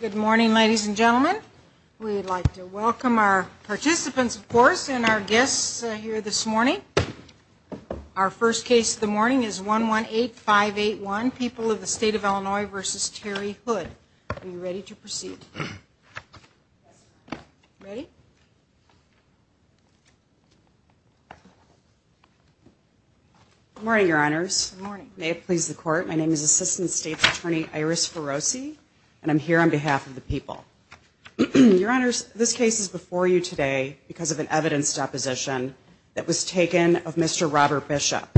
Good morning, ladies and gentlemen. We'd like to welcome our participants, of course, and our guests here this morning. Our first case of the morning is 118581, People of the State of Illinois v. Terry Hood. Are you ready to proceed? Ready? Good morning, your honors. May it please the court, my name is Assistant State Attorney Iris Ferrosi, and I'm here on behalf of the People. Your honors, this case is before you today because of an evidence deposition that was taken of Mr. Robert Bishop.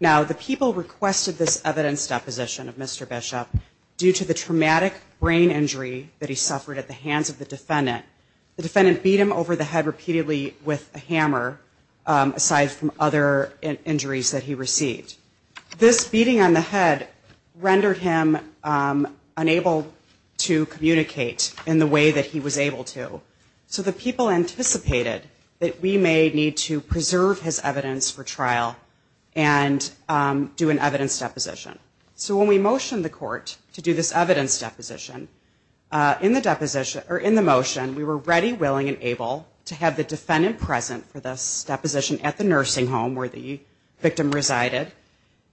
Now, the People requested this evidence deposition of Mr. Bishop due to the traumatic brain injury that he suffered at the hands of the defendant. The defendant pleaded guilty to the crime and is now in a state of emergency. So the People anticipated that we may need to preserve his evidence for trial and do an evidence deposition. So when we motioned the court to do this evidence deposition, in the motion, we were ready, willing, and able to have the defendant present for this deposition at the nursing home where the victim resided.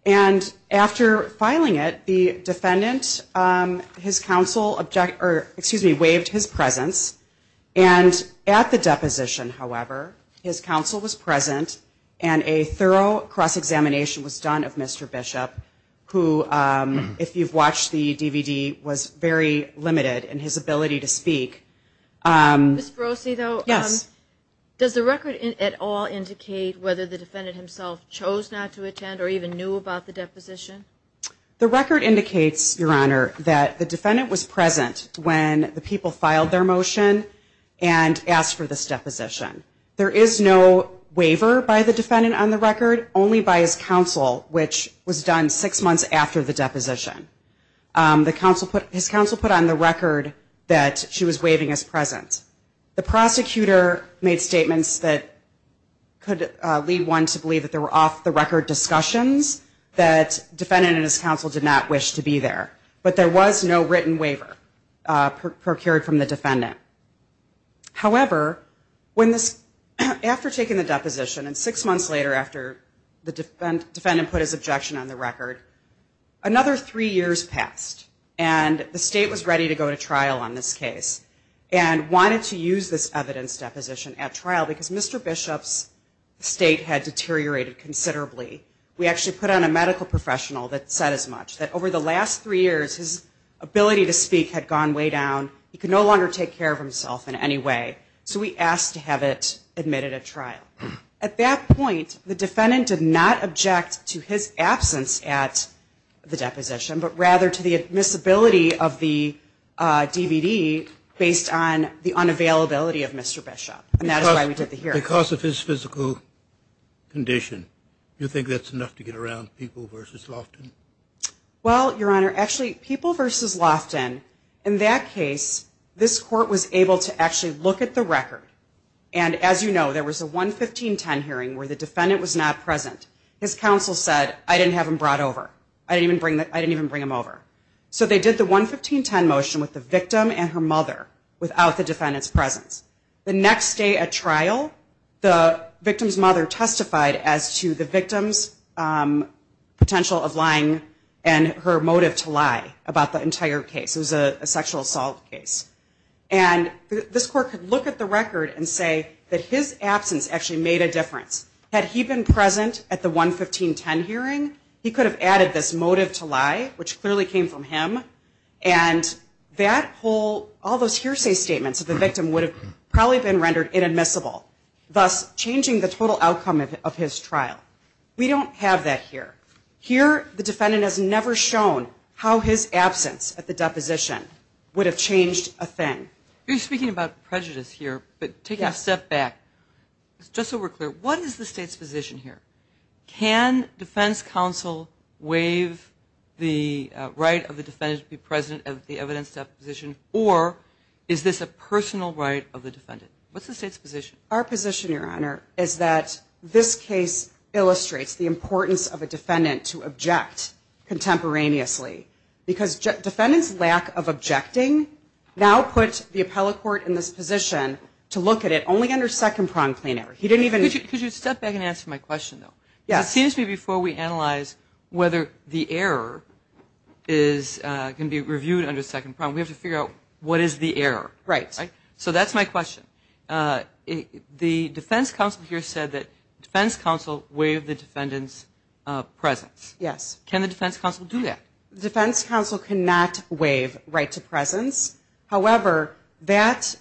And after filing it, the defendant, his counsel, excuse me, waived his presence. And at the deposition, however, his counsel was present and a thorough cross-examination was done of Mr. Bishop, who, if you've watched the DVD, was very limited in his ability to speak. Ms. Berosi, though, does the record at all indicate whether the defendant himself chose not to attend or even knew about the deposition? The record indicates, Your Honor, that the defendant was present when the People filed their motion and asked for this deposition. There is no waiver by the defendant on the record, only by his counsel, which was done six months after the deposition. His counsel put on the record that she was waiving his presence. The prosecutor made statements that could lead one to believe that they were off-the-record discussions, that defendant and his counsel did not wish to be there. But there was no written waiver procured from the defendant. However, when this, after taking the deposition and six months later after the defendant put his objection on the record, another three years passed and the state was ready to go to trial on this case and wanted to use this evidence deposition at trial because Mr. Bishop's state had deteriorated considerably. We actually put on a medical professional that said as much, that over the last three years his ability to speak had gone way down. He could no longer take care of himself in any way. So we asked to have it admitted at trial. At that point, the defendant did not object to his absence at the deposition, but rather to the admissibility of the DVD based on the unavailability of Mr. Bishop. And that is why we did the hearing. Because of his physical condition, you think that's enough to get around People v. Loftin? Well, Your Honor, actually People v. Loftin, in that case, this court was able to actually look at the record. And as you know, there was a 11510 hearing where the defendant was not present. His counsel said, I didn't have him brought over. I didn't even bring him over. So they did the 11510 motion with the victim and her mother without the defendant's presence. The next day at trial, the victim's mother testified as to the victim's potential of lying and her motive to lie about the entire case. It was a sexual assault case. And this court could look at the record and say that his absence actually made a difference. Had he been present at the 11510 hearing, he could have added this motive to lie, which clearly came from him. And that whole, all those hearsay statements of the victim would have probably been rendered inadmissible, thus changing the total outcome of his trial. We don't have that here. Here, the defendant has never shown how his absence at the deposition would have changed a thing. You're speaking about prejudice here, but taking a step back, just so we're clear, what is the state's position here? Can defense counsel waive the right of the defendant to be present at the evidence deposition, or is this a personal right of the defendant? What's the state's position? Our position, Your Honor, is that this case illustrates the importance of a defendant to object contemporaneously. Because defendant's lack of objecting now puts the appellate court in this position to look at it only under second-pronged plain error. The defense counsel here said that defense counsel waived the defendant's presence. Yes. Can the defense counsel do that? The defense counsel cannot waive right to presence. However, that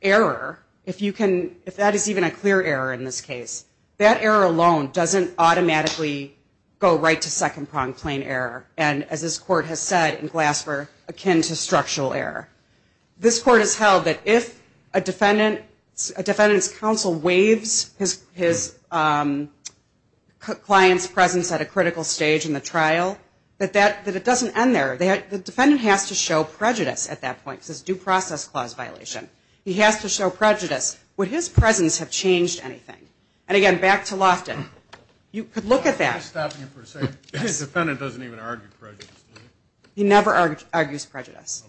error, if you can, if that is even a clear error in this case, that error alone doesn't automatically go right to second-pronged plain error. And as this court has said in Glasper, akin to structural error. This court has held that if a defendant's counsel waives his client's presence at a critical stage in the trial, that it doesn't end there. The defendant has to show prejudice at that point, because it's a due process clause violation. He has to show prejudice. Would his presence have changed anything? And again, back to Loftin. You could look at that. His defendant doesn't even argue prejudice, does he? He never argues prejudice.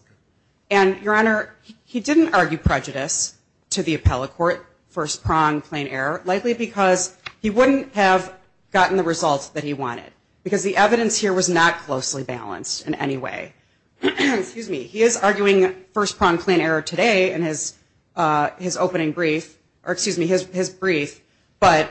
And, Your Honor, he didn't argue prejudice to the appellate court, first-pronged plain error, likely because he wouldn't have gotten the results that he wanted. Because the evidence here was not closely balanced in any way. He is arguing first-pronged plain error today in his opening brief, or excuse me, his brief, but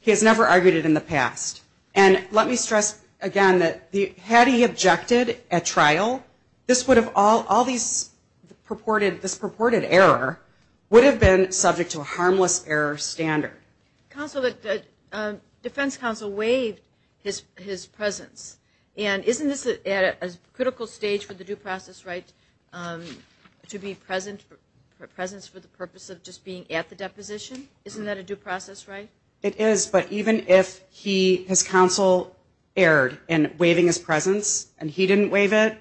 he has never argued it in the past. And let me stress again that had he objected at trial, this purported error would have been subject to a harmless error standard. Counsel, the defense counsel waived his presence. And isn't this at a critical stage for the due process right to be present for the purpose of just being at the deposition? Isn't that a due process right? It is, but even if his counsel erred in waiving his presence and he didn't waive it,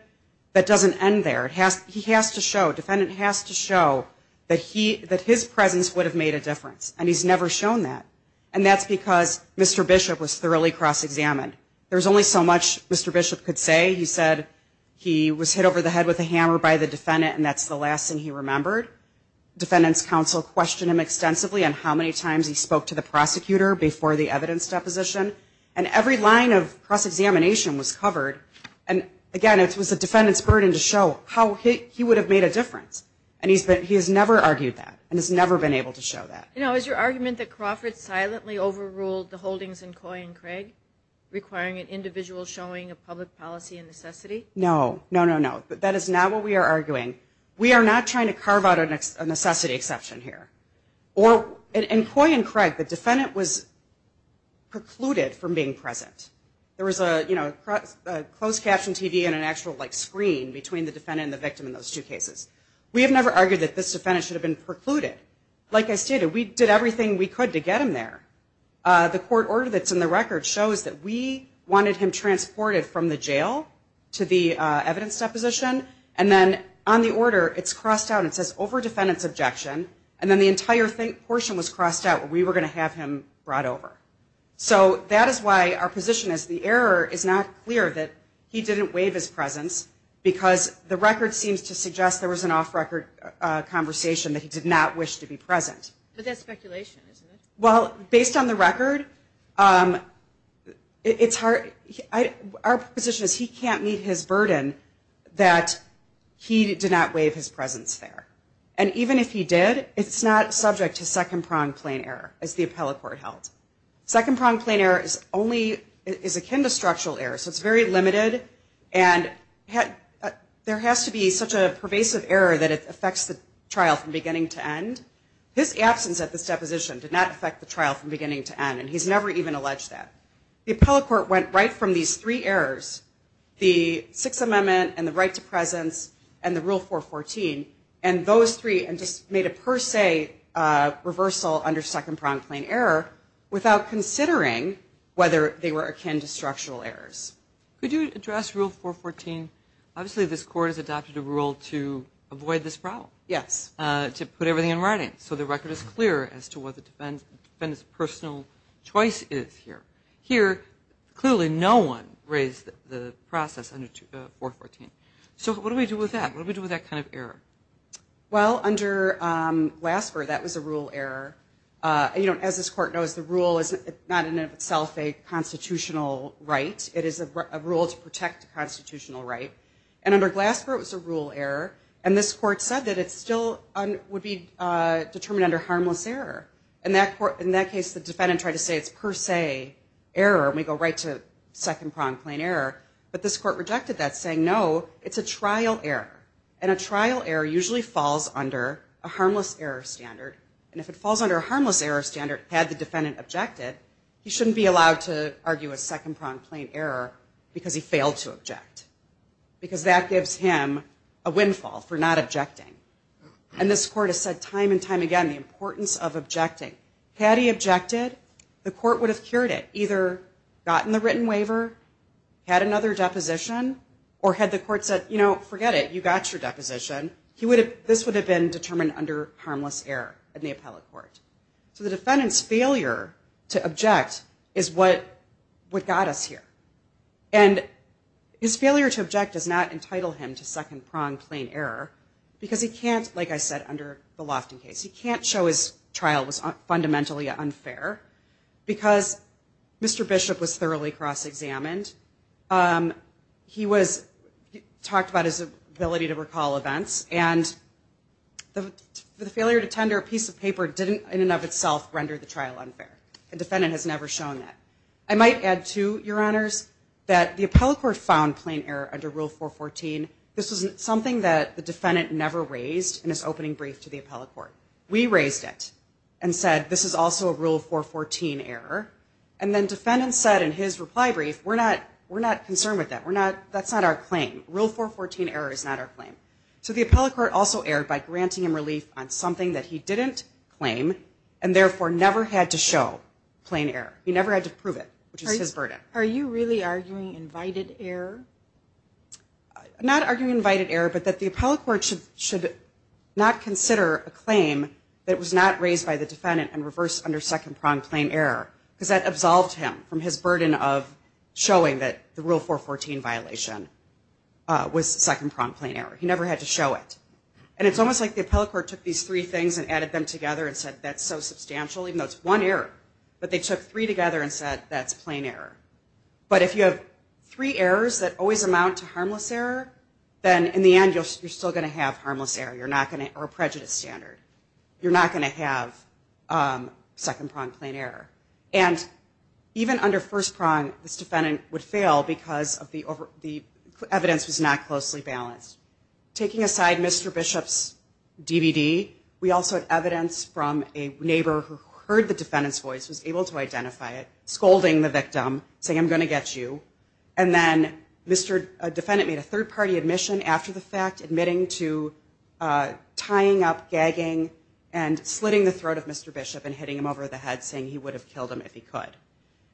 that doesn't end there. He has to show, defendant has to show that his presence would have made a difference. And he's never shown that. And that's because Mr. Bishop was thoroughly cross-examined. There's only so much Mr. Bishop could say. He said he was hit over the head with a hammer by the defendant and that's the last thing he remembered. Defendant's counsel questioned him extensively on how many times he spoke to the prosecutor before the evidence deposition. And every line of cross-examination was covered. And, again, it was the defendant's burden to show how he would have made a difference. And he has never argued that and has never been able to show that. You know, is your argument that Crawford silently overruled the holdings in Coy and Craig, requiring an individual showing a public policy necessity? No, no, no, no. That is not what we are arguing. We are not trying to carve out a necessity exception here. In Coy and Craig, the defendant was precluded from being present. There was a closed-caption TV and an actual screen between the defendant and the victim in those two cases. We have never argued that this defendant should have been precluded. Like I stated, we did everything we could to get him there. The court order that's in the record shows that we wanted him transported from the jail to the evidence deposition. And then on the order, it's crossed out and it says, over defendant's objection. And then the entire portion was crossed out where we were going to have him brought over. So that is why our position is the error is not clear that he didn't waive his presence because the record seems to suggest there was an off-record conversation that he did not wish to be present. But that's speculation, isn't it? Well, based on the record, our position is he can't meet his burden that he did not waive his presence there. And even if he did, it's not subject to second-pronged plain error, as the appellate court held. Second-pronged plain error is akin to structural error, so it's very limited. And there has to be such a pervasive error that it affects the trial from beginning to end. His absence at this deposition did not affect the trial from beginning to end, and he's never even alleged that. The appellate court went right from these three errors, the Sixth Amendment and the right to presence and the Rule 414, and those three made a per se reversal under second-pronged plain error without considering whether they were akin to structural errors. Could you address Rule 414? Obviously, this court has adopted a rule to avoid this problem. Yes. To put everything in writing so the record is clear as to what the defendant's personal choice is here. Here, clearly no one raised the process under 414. So what do we do with that? What do we do with that kind of error? Well, under Glasper, that was a rule error. As this court knows, the rule is not in and of itself a constitutional right. It is a rule to protect the constitutional right. And under Glasper, it was a rule error. And this court said that it still would be determined under harmless error. In that case, the defendant tried to say it's per se error, and we go right to second-pronged plain error. But this court rejected that, saying, no, it's a trial error. And a trial error usually falls under a harmless error standard. And if it falls under a harmless error standard, had the defendant objected, he shouldn't be allowed to argue a second-pronged plain error because he failed to object. Because that gives him a windfall for not objecting. And this court has said time and time again the importance of objecting. Had he objected, the court would have cured it, either gotten the written waiver, had another deposition, or had the court said, you know, forget it, you got your deposition. This would have been determined under harmless error in the appellate court. So the defendant's failure to object is what got us here. And his failure to object does not entitle him to second-pronged plain error because he can't, like I said, under the Lofton case, he can't show his trial was fundamentally unfair because Mr. Bishop was thoroughly cross-examined. He talked about his ability to recall events. And the failure to tender a piece of paper didn't in and of itself render the trial unfair. The defendant has never shown that. I might add, too, Your Honors, that the appellate court found plain error under Rule 414. This was something that the defendant never raised in his opening brief to the appellate court. We raised it and said, this is also a Rule 414 error. And then defendant said in his reply brief, we're not concerned with that. We're not, that's not our claim. Rule 414 error is not our claim. So the appellate court also erred by granting him relief on something that he didn't claim and therefore never had to show plain error. He never had to prove it, which is his burden. Are you really arguing invited error? Not arguing invited error, but that the appellate court should not consider a claim that was not raised by the defendant and reversed under second-pronged plain error. Because that absolved him from his burden of showing that the Rule 414 violation was second-pronged plain error. He never had to show it. And it's almost like the appellate court took these three things and added them together and said, that's so substantial, even though it's one error. But they took three together and said, that's plain error. But if you have three errors that always amount to harmless error, then in the end you're still going to have harmless error. You're not going to have a prejudice standard. You're not going to have second-pronged plain error. And even under first prong, this defendant would fail because the evidence was not closely balanced. Taking aside Mr. Bishop's DVD, we also had evidence from a neighbor who heard the defendant's voice, was able to identify it, scolding the victim, saying, I'm going to get you. And then a defendant made a third-party admission after the fact, admitting to tying up, gagging, and slitting the throat of Mr. Bishop and hitting him over the head, saying he would have killed him if he could.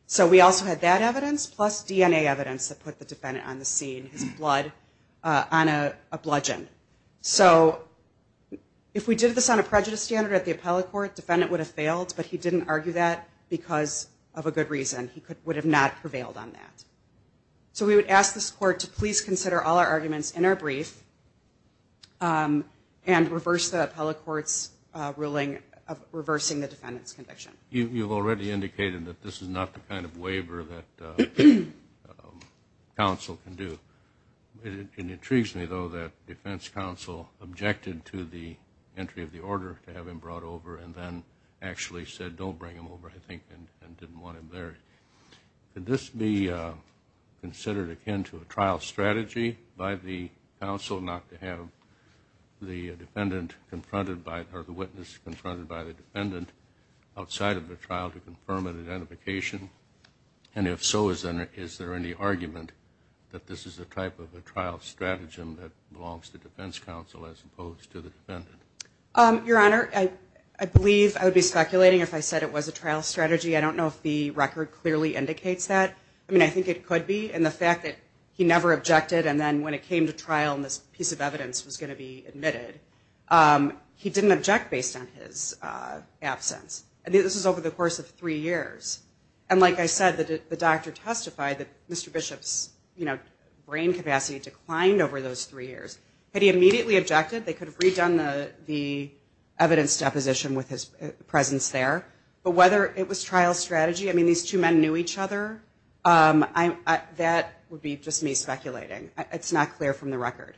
So we also had that evidence plus DNA evidence that put the defendant on the scene, his blood on a bludgeon. So if we did this on a prejudice standard at the appellate court, the defendant would have failed, but he didn't argue that because of a good reason. He would have not prevailed on that. So we would ask this court to please consider all our arguments in our brief and reverse the appellate court's ruling of reversing the defendant's conviction. You've already indicated that this is not the kind of waiver that counsel can do. It intrigues me, though, that defense counsel objected to the entry of the order to have him brought over and then actually said, don't bring him over, I think, and didn't want him there. Could this be considered akin to a trial strategy by the counsel not to have the defendant confronted by it or the witness confronted by the defendant outside of the trial to confirm an identification? And if so, is there any argument that this is the type of a trial strategy that belongs to defense counsel as opposed to the defendant? Your Honor, I believe I would be speculating if I said it was a trial strategy. I don't know if the record clearly indicates that. I mean, I think it could be. And the fact that he never objected and then when it came to trial and this piece of evidence was going to be admitted, he didn't object based on his absence. This was over the course of three years. And like I said, the doctor testified that Mr. Bishop's brain capacity declined over those three years. Had he immediately objected, they could have redone the evidence deposition with his presence there. But whether it was trial strategy, I mean, these two men knew each other, that would be just me speculating. It's not clear from the record.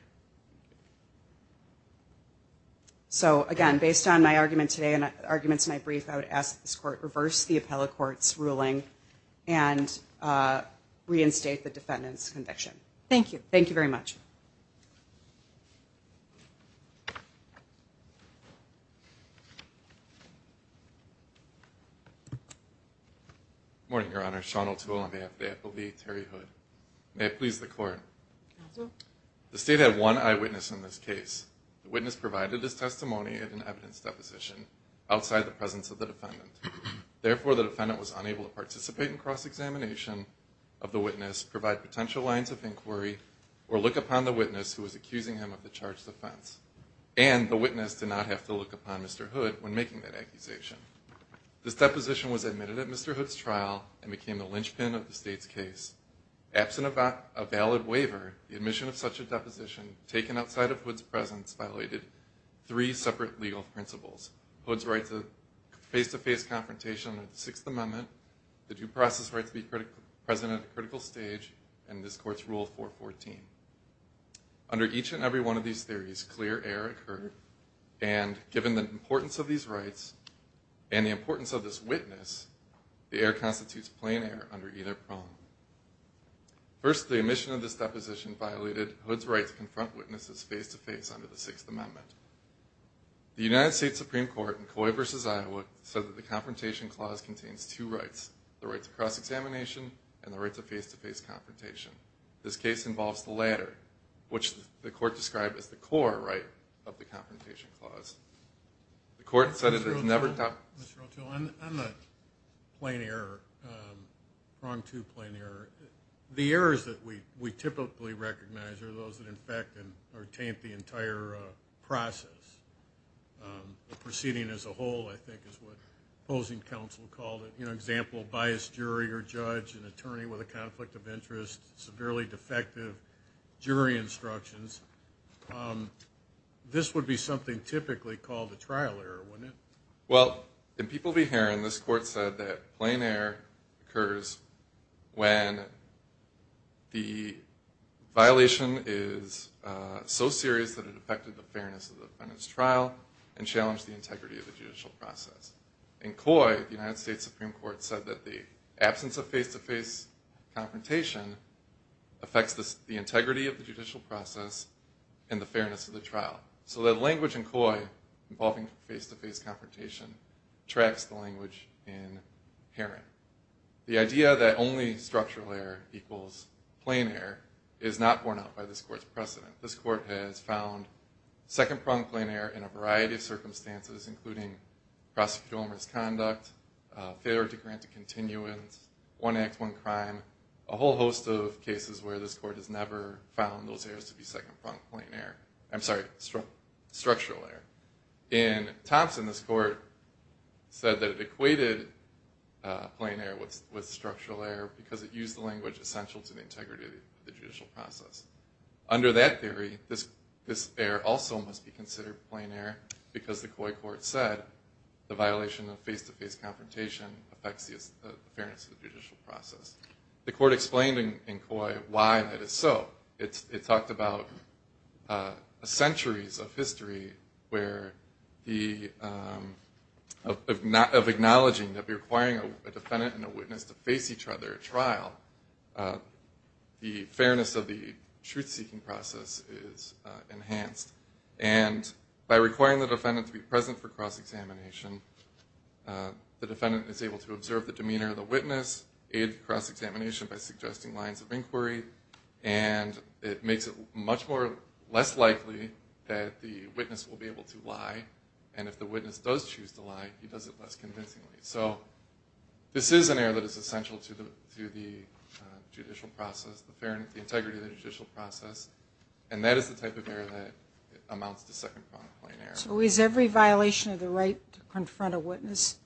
So, again, based on my argument today and arguments in my brief, I would ask that this Court reverse the appellate court's ruling and reinstate the defendant's conviction. Thank you. Thank you very much. Good morning, Your Honor. Sean O'Toole. May it please the Court. The State had one eyewitness in this case. The witness provided his testimony in an evidence deposition outside the presence of the defendant. Therefore, the defendant was unable to participate in cross-examination of the witness, provide potential lines of inquiry, or look upon the witness who was accusing him of the charged offense. And the witness did not have to look upon Mr. Hood when making that accusation. This deposition was admitted at Mr. Hood's trial and became the linchpin of the State's case. Absent a valid waiver, the admission of such a deposition, taken outside of Hood's presence, violated three separate legal principles. Hood's right to face-to-face confrontation under the Sixth Amendment, the due process right to be present at a critical stage, and this Court's Rule 414. Under each and every one of these theories, clear error occurred, and given the importance of these rights and the importance of this witness, the error constitutes plain error under either prong. First, the admission of this deposition violated Hood's right to confront witnesses face-to-face under the Sixth Amendment. The United States Supreme Court, in Coy v. Iowa, said that the Confrontation Clause contains two rights, the right to cross-examination and the right to face-to-face confrontation. This case involves the latter, which the Court described as the core right of the Confrontation Clause. The Court said it has never done... Mr. O'Toole, on the plain error, prong to plain error, the errors that we typically recognize are those that infect or taint the entire process. The proceeding as a whole, I think, is what opposing counsel called it. You know, example, biased jury or judge, an attorney with a conflict of interest, severely defective jury instructions. This would be something typically called a trial error, wouldn't it? Well, in People v. Herron, this Court said that plain error occurs when the violation is so serious that it affected the fairness of the defendant's trial and challenged the integrity of the judicial process. In Coy, the United States Supreme Court said that the absence of face-to-face confrontation affects the integrity of the judicial process and the fairness of the trial. So that language in Coy involving face-to-face confrontation tracks the language in Herron. The idea that only structural error equals plain error is not borne out by this Court's precedent. This Court has found second-pronged plain error in a variety of circumstances, including prosecutorial misconduct, failure to grant a continuance, one act, one crime, a whole host of cases where this Court has never found those errors to be second-pronged plain error. I'm sorry, structural error. In Thompson, this Court said that it equated plain error with structural error because it used the language essential to the integrity of the judicial process. Under that theory, this error also must be considered plain error because the Coy Court said the violation of face-to-face confrontation affects the fairness of the judicial process. The Court explained in Coy why that is so. It talked about centuries of history of acknowledging that requiring a defendant and a witness to face each other at trial, the fairness of the truth-seeking process is enhanced. And by requiring the defendant to be present for cross-examination, the defendant is able to observe the demeanor of the witness, aid cross-examination by suggesting lines of inquiry, and it makes it much less likely that the witness will be able to lie, and if the witness does choose to lie, he does it less convincingly. So this is an error that is essential to the judicial process, the integrity of the judicial process, and that is the type of error that amounts to second-pronged plain error. So is every violation of the right to confront a witness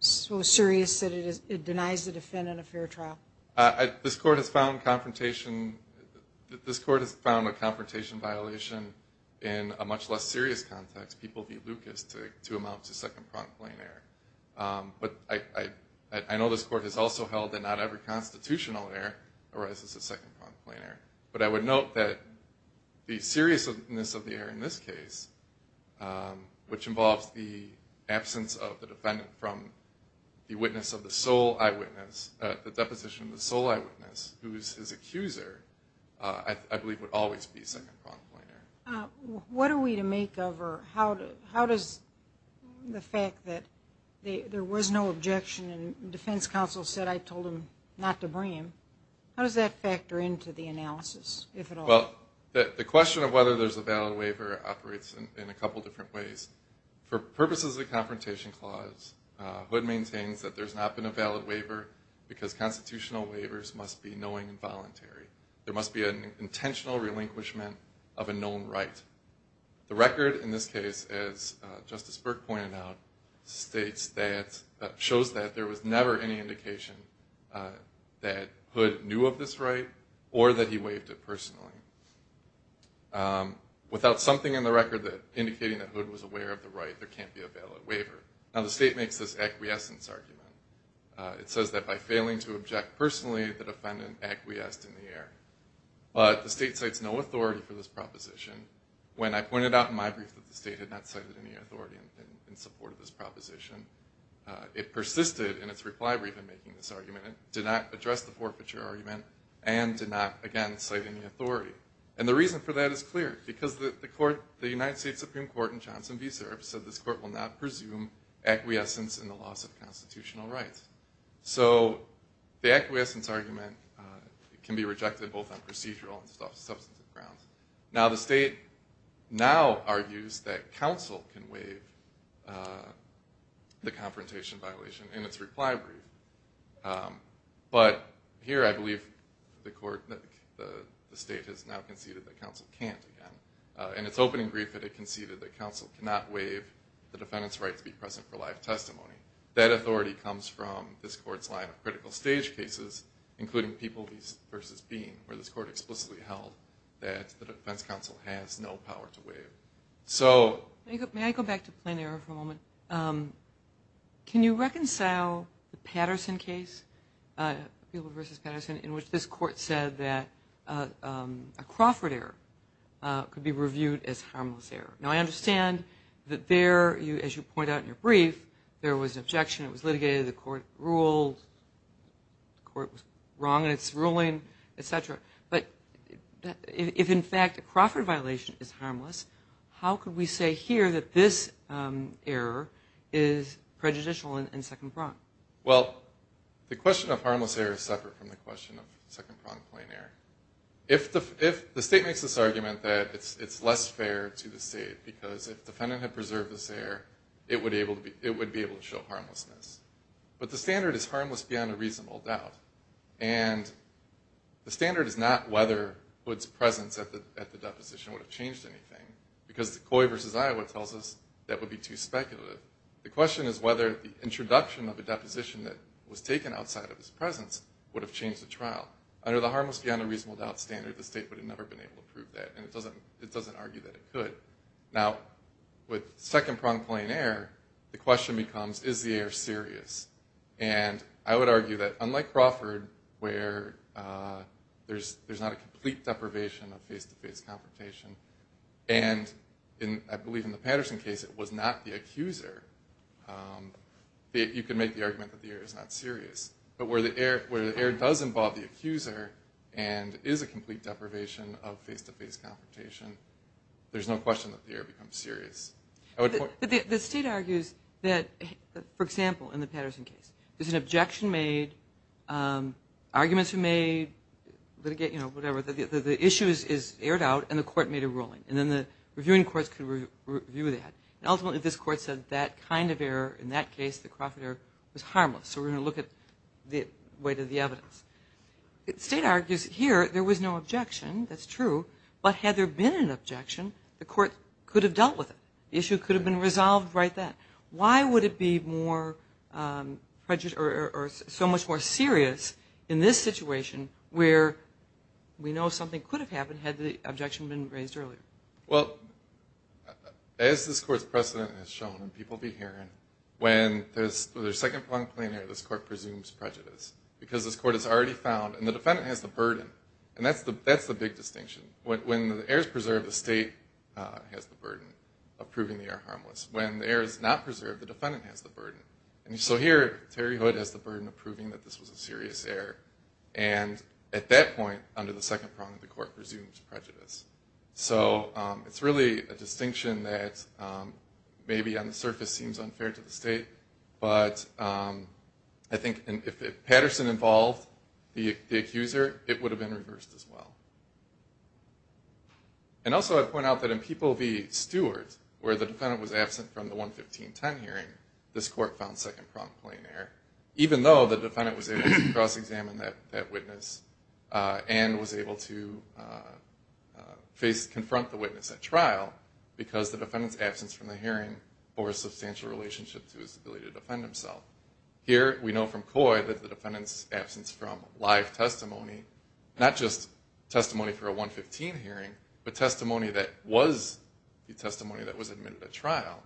so serious that it denies the defendant a fair trial? This Court has found a confrontation violation in a much less serious context, people v. Lucas, to amount to second-pronged plain error. But I know this Court has also held that not every constitutional error arises as second-pronged plain error. But I would note that the seriousness of the error in this case, which involves the absence of the defendant from the witness of the sole eyewitness, the deposition of the sole eyewitness who is his accuser, I believe would always be second-pronged plain error. What are we to make of or how does the fact that there was no objection and defense counsel said I told him not to bring him, how does that factor into the analysis, if at all? Well, the question of whether there's a valid waiver operates in a couple different ways. For purposes of the Confrontation Clause, Hood maintains that there's not been a valid waiver because constitutional waivers must be knowing and voluntary. There must be an intentional relinquishment of a known right. The record in this case, as Justice Burke pointed out, shows that there was never any indication that Hood knew of this right or that he waived it personally. Without something in the record indicating that Hood was aware of the right, there can't be a valid waiver. Now, the state makes this acquiescence argument. It says that by failing to object personally, the defendant acquiesced in the error. But the state cites no authority for this proposition. When I pointed out in my brief that the state had not cited any authority in support of this proposition, it persisted in its reply brief in making this argument. It did not address the forfeiture argument and did not, again, cite any authority. And the reason for that is clear because the United States Supreme Court in Johnson v. Serbs said this court will not presume acquiescence in the loss of constitutional rights. So the acquiescence argument can be rejected both on procedural and substantive grounds. Now, the state now argues that counsel can waive the confrontation violation in its reply brief. But here I believe the state has now conceded that counsel can't, again. In its opening brief, it conceded that counsel cannot waive the defendant's right to be present for live testimony. That authority comes from this court's line of critical stage cases, including Peeble v. Bean, where this court explicitly held that the defense counsel has no power to waive. May I go back to plain error for a moment? Can you reconcile the Patterson case, Peeble v. Patterson, in which this court said that a Crawford error could be reviewed as harmless error? Now, I understand that there, as you point out in your brief, there was an objection. It was litigated. The court ruled. The court was wrong in its ruling, et cetera. But if, in fact, a Crawford violation is harmless, how could we say here that this error is prejudicial in Second Prong? Well, the question of harmless error is separate from the question of Second Prong plain error. The state makes this argument that it's less fair to the state, because if the defendant had preserved this error, it would be able to show harmlessness. But the standard is harmless beyond a reasonable doubt. And the standard is not whether Hood's presence at the deposition would have changed anything, because the Coy v. Iowa tells us that would be too speculative. The question is whether the introduction of a deposition that was taken outside of his presence would have changed the trial. Under the harmless beyond a reasonable doubt standard, the state would have never been able to prove that. And it doesn't argue that it could. Now, with Second Prong plain error, the question becomes, is the error serious? And I would argue that, unlike Crawford, where there's not a complete deprivation of face-to-face confrontation, and I believe in the Patterson case it was not the accuser, you could make the argument that the error is not serious. But where the error does involve the accuser and is a complete deprivation of face-to-face confrontation, there's no question that the error becomes serious. But the state argues that, for example, in the Patterson case, there's an objection made, arguments were made, litigate, you know, whatever. The issue is aired out, and the court made a ruling. And then the reviewing courts could review that. And ultimately this court said that kind of error, in that case the Crawford error, was harmless. So we're going to look at the weight of the evidence. The state argues here there was no objection. That's true. But had there been an objection, the court could have dealt with it. The issue could have been resolved right then. Why would it be so much more serious in this situation where we know something could have happened had the objection been raised earlier? Well, as this court's precedent has shown and people will be hearing, when there's a second-pronged plain error, this court presumes prejudice. Because this court has already found, and the defendant has the burden, and that's the big distinction. When the error is preserved, the state has the burden of proving the error harmless. When the error is not preserved, the defendant has the burden. And so here Terry Hood has the burden of proving that this was a serious error. And at that point, under the second prong, the court presumes prejudice. So it's really a distinction that maybe on the surface seems unfair to the state, but I think if Patterson involved the accuser, it would have been reversed as well. And also I'd point out that in People v. Stewart, where the defendant was absent from the 11510 hearing, this court found second-pronged plain error, even though the defendant was able to cross-examine that witness and was able to confront the witness at trial, because the defendant's absence from the hearing bore a substantial relationship to his ability to defend himself. Here we know from Coy that the defendant's absence from live testimony, not just testimony for a 115 hearing, but testimony that was the testimony that was admitted at trial,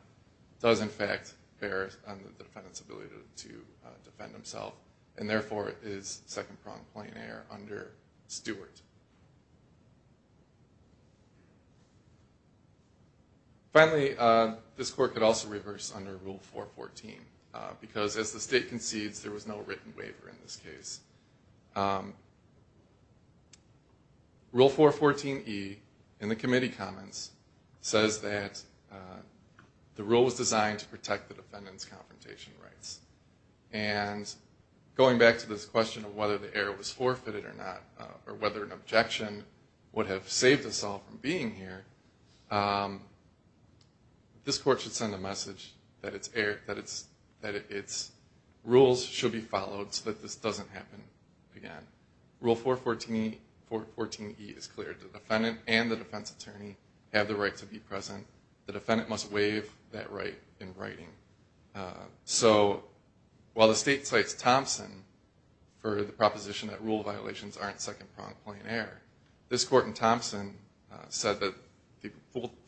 does in fact bear on the defendant's ability to defend himself and therefore is second-pronged plain error under Stewart. Finally, this court could also reverse under Rule 414, because as the state concedes, there was no written waiver in this case. Rule 414E, in the committee comments, says that the rule was designed to protect the defendant's confrontation rights. And going back to this question of whether the error was forfeited or not, or whether an objection would have saved us all from being here, this court should send a message that its rules should be followed so that this doesn't happen again. Rule 414E is clear. The defendant and the defense attorney have the right to be present. The defendant must waive that right in writing. So while the state cites Thompson for the proposition that rule violations aren't second-pronged plain error, this court in Thompson said that the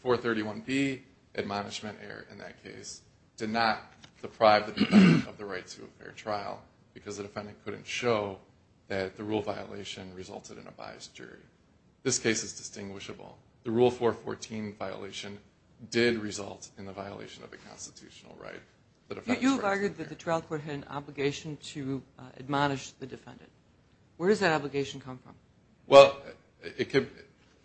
431B admonishment error in that case did not deprive the defendant of the right to a fair trial, because the defendant couldn't show that the rule violation resulted in a biased jury. This case is distinguishable. The Rule 414 violation did result in the violation of a constitutional right. You have argued that the trial court had an obligation to admonish the defendant. Where does that obligation come from? Well,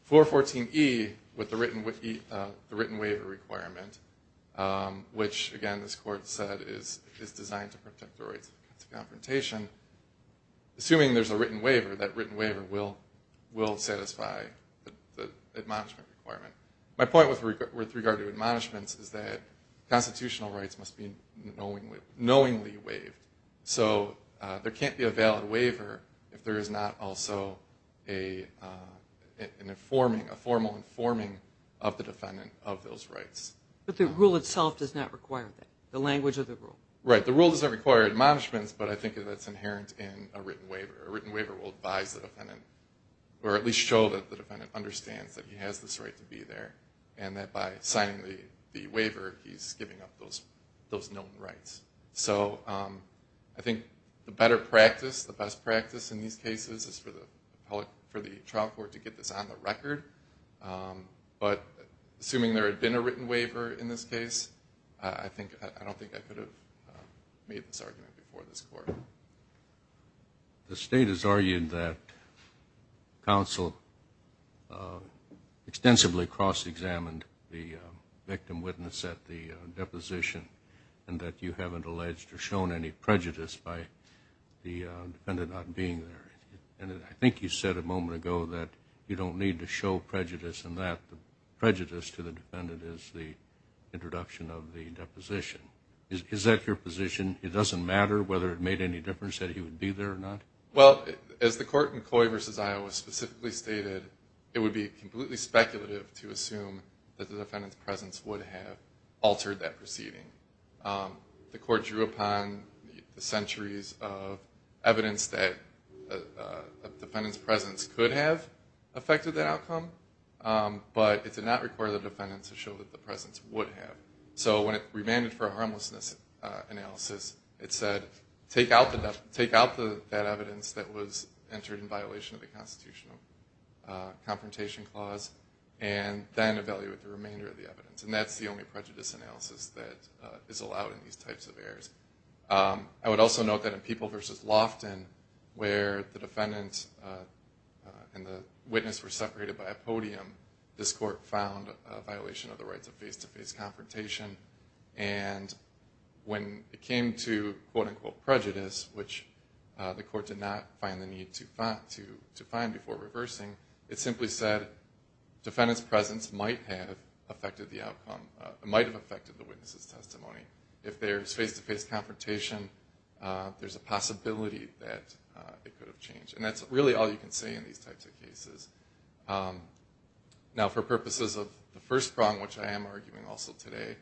414E, with the written waiver requirement, which, again, this court said is designed to protect the rights of confrontation, assuming there's a written waiver, that written waiver will satisfy the admonishment requirement. My point with regard to admonishments is that constitutional rights must be knowingly waived. So there can't be a valid waiver if there is not also a formal informing of the defendant of those rights. But the rule itself does not require that, the language of the rule. Right. The rule doesn't require admonishments, but I think that's inherent in a written waiver. A written waiver will advise the defendant, or at least show that the defendant understands that he has this right to be there, and that by signing the waiver, he's giving up those known rights. So I think the better practice, the best practice in these cases, is for the trial court to get this on the record. But assuming there had been a written waiver in this case, I don't think I could have made this argument before this court. The State has argued that counsel extensively cross-examined the victim witness at the deposition, and that you haven't alleged or shown any prejudice by the defendant not being there. And I think you said a moment ago that you don't need to show prejudice in that. Prejudice to the defendant is the introduction of the deposition. Is that your position? It doesn't matter whether it made any difference that he would be there or not? Well, as the court in Coy v. Iowa specifically stated, it would be completely speculative to assume that the defendant's presence would have altered that proceeding. The court drew upon the centuries of evidence that a defendant's presence could have affected that outcome, but it did not require the defendant to show that the presence would have. So when it remanded for a harmlessness analysis, it said, take out that evidence that was entered in violation of the Constitutional Confrontation Clause, and then evaluate the remainder of the evidence. And that's the only prejudice analysis that is allowed in these types of errors. I would also note that in Peeble v. Lofton, where the defendant and the witness were separated by a podium, this court found a violation of the rights of face-to-face confrontation. And when it came to, quote-unquote, prejudice, which the court did not find the need to find before reversing, it simply said, defendant's presence might have affected the outcome, might have affected the witness's testimony. If there's face-to-face confrontation, there's a possibility that it could have changed. And that's really all you can say in these types of cases. Now, for purposes of the first prong, which I am arguing also today,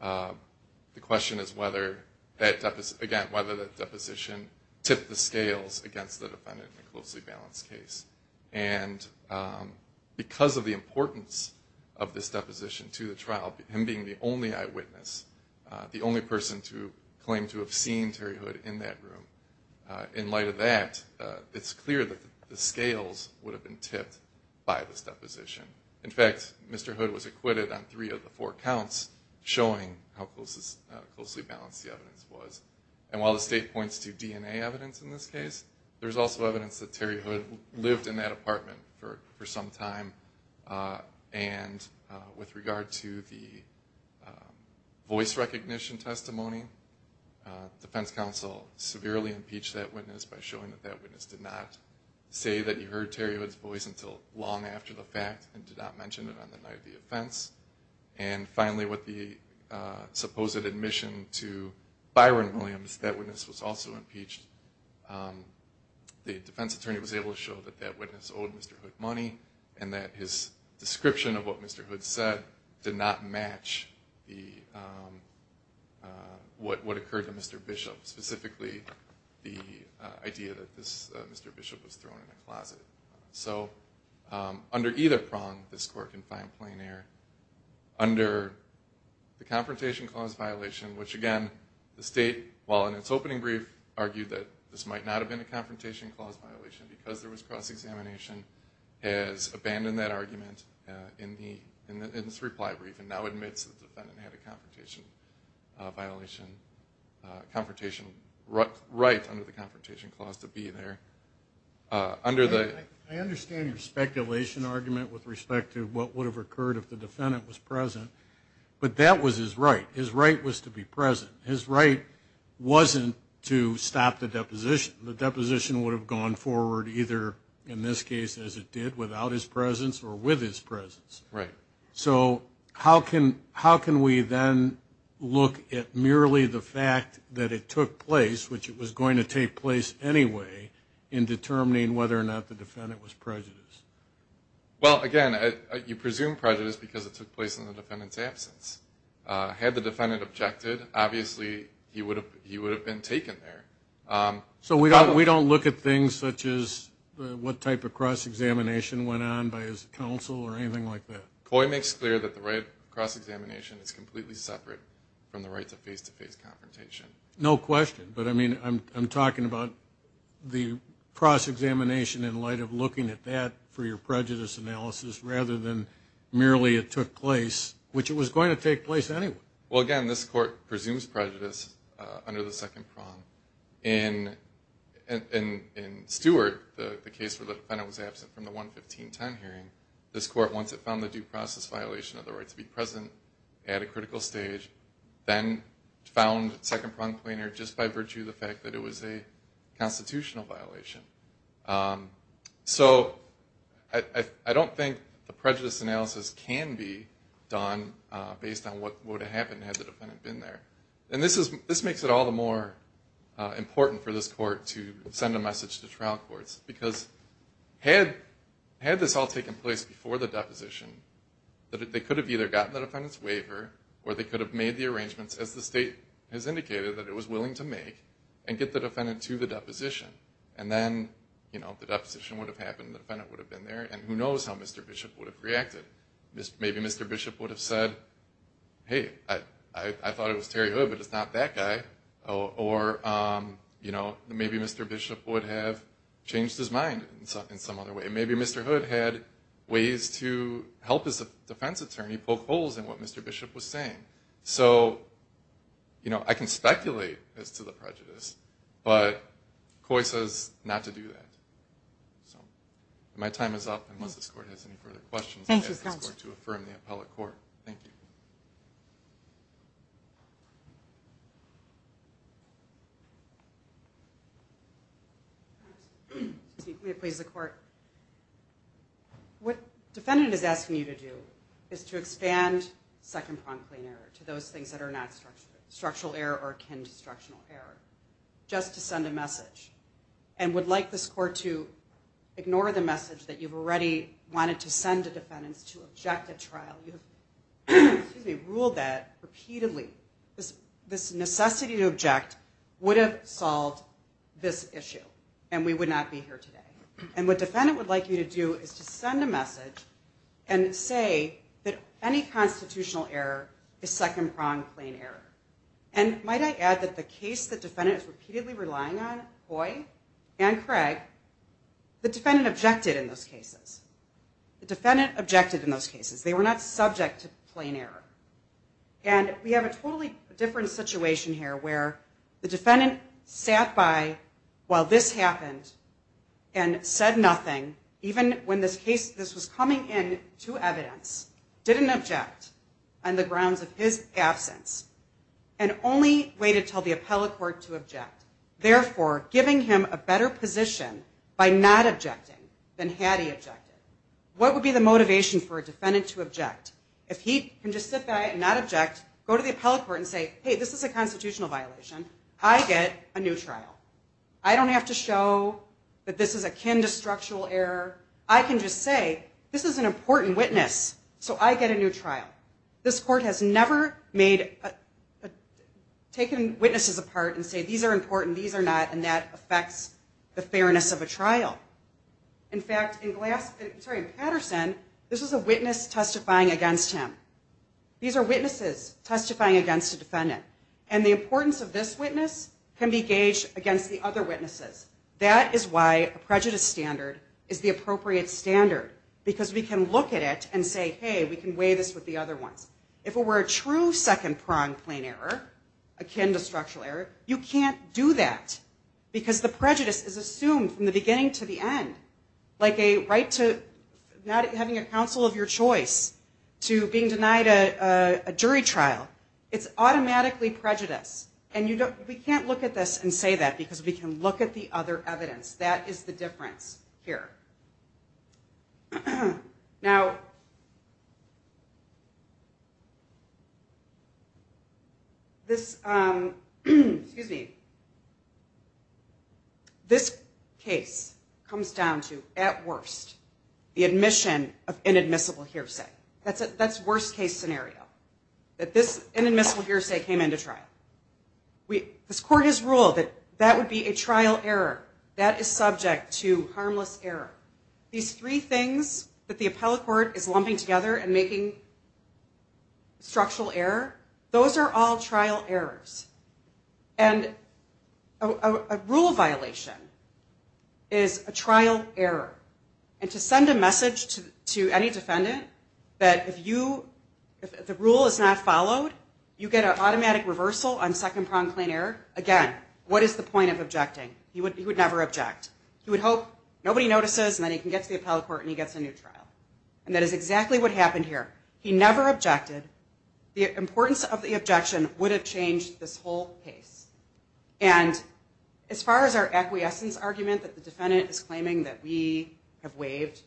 the question is whether that deposition tipped the scales against the defendant in a closely balanced case. And because of the importance of this deposition to the trial, him being the only eyewitness, the only person to claim to have seen Terry Hood in that room, in light of that, it's clear that the scales would have been tipped by this deposition. In fact, Mr. Hood was acquitted on three of the four counts, showing how closely balanced the evidence was. And while the state points to DNA evidence in this case, there's also evidence that Terry Hood lived in that apartment for some time. And with regard to the voice recognition testimony, defense counsel severely impeached that witness by showing that that witness did not say that he heard Terry Hood's voice until long after the fact and did not mention it on the night of the offense. And finally, with the supposed admission to Byron Williams, that witness was also impeached. The defense attorney was able to show that that witness owed Mr. Hood money and that his description of what Mr. Hood said did not match what occurred to Mr. Bishop, specifically the idea that Mr. Bishop was thrown in the closet. So under either prong, this court can find plein air. Under the Confrontation Clause violation, which again, the state, while in its opening brief, argued that this might not have been a Confrontation Clause violation because there was cross-examination, has abandoned that argument in its reply brief and now admits the defendant had a Confrontation right under the Confrontation Clause to be there. I understand your speculation argument with respect to what would have occurred if the defendant was present, but that was his right. His right was to be present. His right wasn't to stop the deposition. The deposition would have gone forward either, in this case, as it did, without his presence or with his presence. So how can we then look at merely the fact that it took place, which it was going to take place anyway, in determining whether or not the defendant was prejudiced? Well, again, you presume prejudice because it took place in the defendant's absence. Had the defendant objected, obviously he would have been taken there. So we don't look at things such as what type of cross-examination went on by his counsel or anything like that? Coy makes clear that the right of cross-examination is completely separate from the right to face-to-face confrontation. No question. But, I mean, I'm talking about the cross-examination in light of looking at that for your prejudice analysis rather than merely it took place, which it was going to take place anyway. Well, again, this Court presumes prejudice under the second prong. In Stewart, the case where the defendant was absent from the 11510 hearing, this Court, once it found the due process violation of the right to be present at a critical stage, then found second prong plainer just by virtue of the fact that it was a constitutional violation. So I don't think the prejudice analysis can be done based on what would have happened had the defendant been there. And this makes it all the more important for this Court to send a message to trial courts, because had this all taken place before the deposition, that they could have either gotten the defendant's waiver or they could have made the arrangements, as the State has indicated that it was willing to make, and get the defendant to the deposition. And then, you know, the deposition would have happened, the defendant would have been there, and who knows how Mr. Bishop would have reacted. Maybe Mr. Bishop would have said, hey, I thought it was Terry Hood, but it's not that guy. Or, you know, maybe Mr. Bishop would have changed his mind in some other way. Maybe Mr. Hood had ways to help his defense attorney poke holes in what Mr. Bishop was saying. So, you know, I can speculate as to the prejudice, but COI says not to do that. So my time is up, unless this Court has any further questions. Thank you, counsel. I ask this Court to affirm the appellate court. Thank you. Excuse me. May it please the Court. What the defendant is asking you to do is to expand second prompt claim error to those things that are not structural error or akin to structural error, just to send a message. And would like this Court to ignore the message that you've already wanted to send a defendant to object a trial. You have ruled that repeatedly. This necessity to object would have solved this issue, and we would not be here today. And what the defendant would like you to do is to send a message and say that any constitutional error is second prompt claim error. And might I add that the case the defendant is repeatedly relying on, COI and Craig, the defendant objected in those cases. The defendant objected in those cases. They were not subject to plain error. And we have a totally different situation here where the defendant sat by while this happened and said nothing, even when this was coming in to evidence, didn't object, on the grounds of his absence, and only waited until the appellate court to object, therefore giving him a better position by not objecting than had he objected. What would be the motivation for a defendant to object? If he can just sit by and not object, go to the appellate court and say, hey, this is a constitutional violation. I get a new trial. I don't have to show that this is akin to structural error. I can just say this is an important witness, so I get a new trial. This court has never taken witnesses apart and said these are important, these are not, and that affects the fairness of a trial. In fact, in Patterson, this is a witness testifying against him. These are witnesses testifying against a defendant. And the importance of this witness can be gauged against the other witnesses. That is why a prejudice standard is the appropriate standard, because we can look at it and say, hey, we can weigh this with the other ones. If it were a true second-pronged plain error, akin to structural error, you can't do that because the prejudice is assumed from the beginning to the end, like a right to not having a counsel of your choice to being denied a jury trial. It's automatically prejudice. And we can't look at this and say that because we can look at the other evidence. That is the difference here. Now, this case comes down to, at worst, the admission of inadmissible hearsay. That's worst-case scenario, that this inadmissible hearsay came into trial. This court has ruled that that would be a trial error. That is subject to harmless error. These three things that the appellate court is lumping together and making structural error, those are all trial errors. And a rule violation is a trial error. And to send a message to any defendant that if the rule is not followed, you get an automatic reversal on second-pronged plain error, again, what is the point of objecting? He would never object. He would hope nobody notices and then he can get to the appellate court and he gets a new trial. And that is exactly what happened here. He never objected. The importance of the objection would have changed this whole case. And as far as our acquiescence argument that the defendant is claiming that we have waived,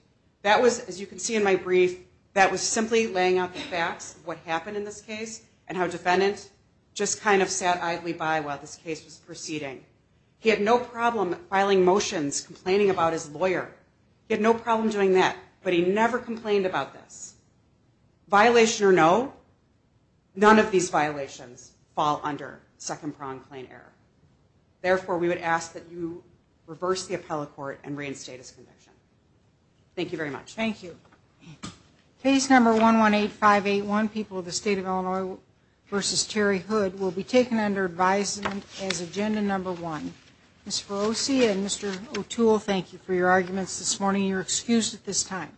that was, as you can see in my brief, that was simply laying out the facts of what happened in this case and how a defendant just kind of sat idly by while this case was proceeding. He had no problem filing motions complaining about his lawyer. He had no problem doing that. But he never complained about this. Violation or no, none of these violations fall under second-pronged plain error. Therefore, we would ask that you reverse the appellate court and reinstate his conviction. Thank you very much. Thank you. Case number 118581, People of the State of Illinois v. Terry Hood, will be taken under advisement as agenda number one. Ms. Ferrosi and Mr. O'Toole, thank you for your arguments this morning. You're excused at this time.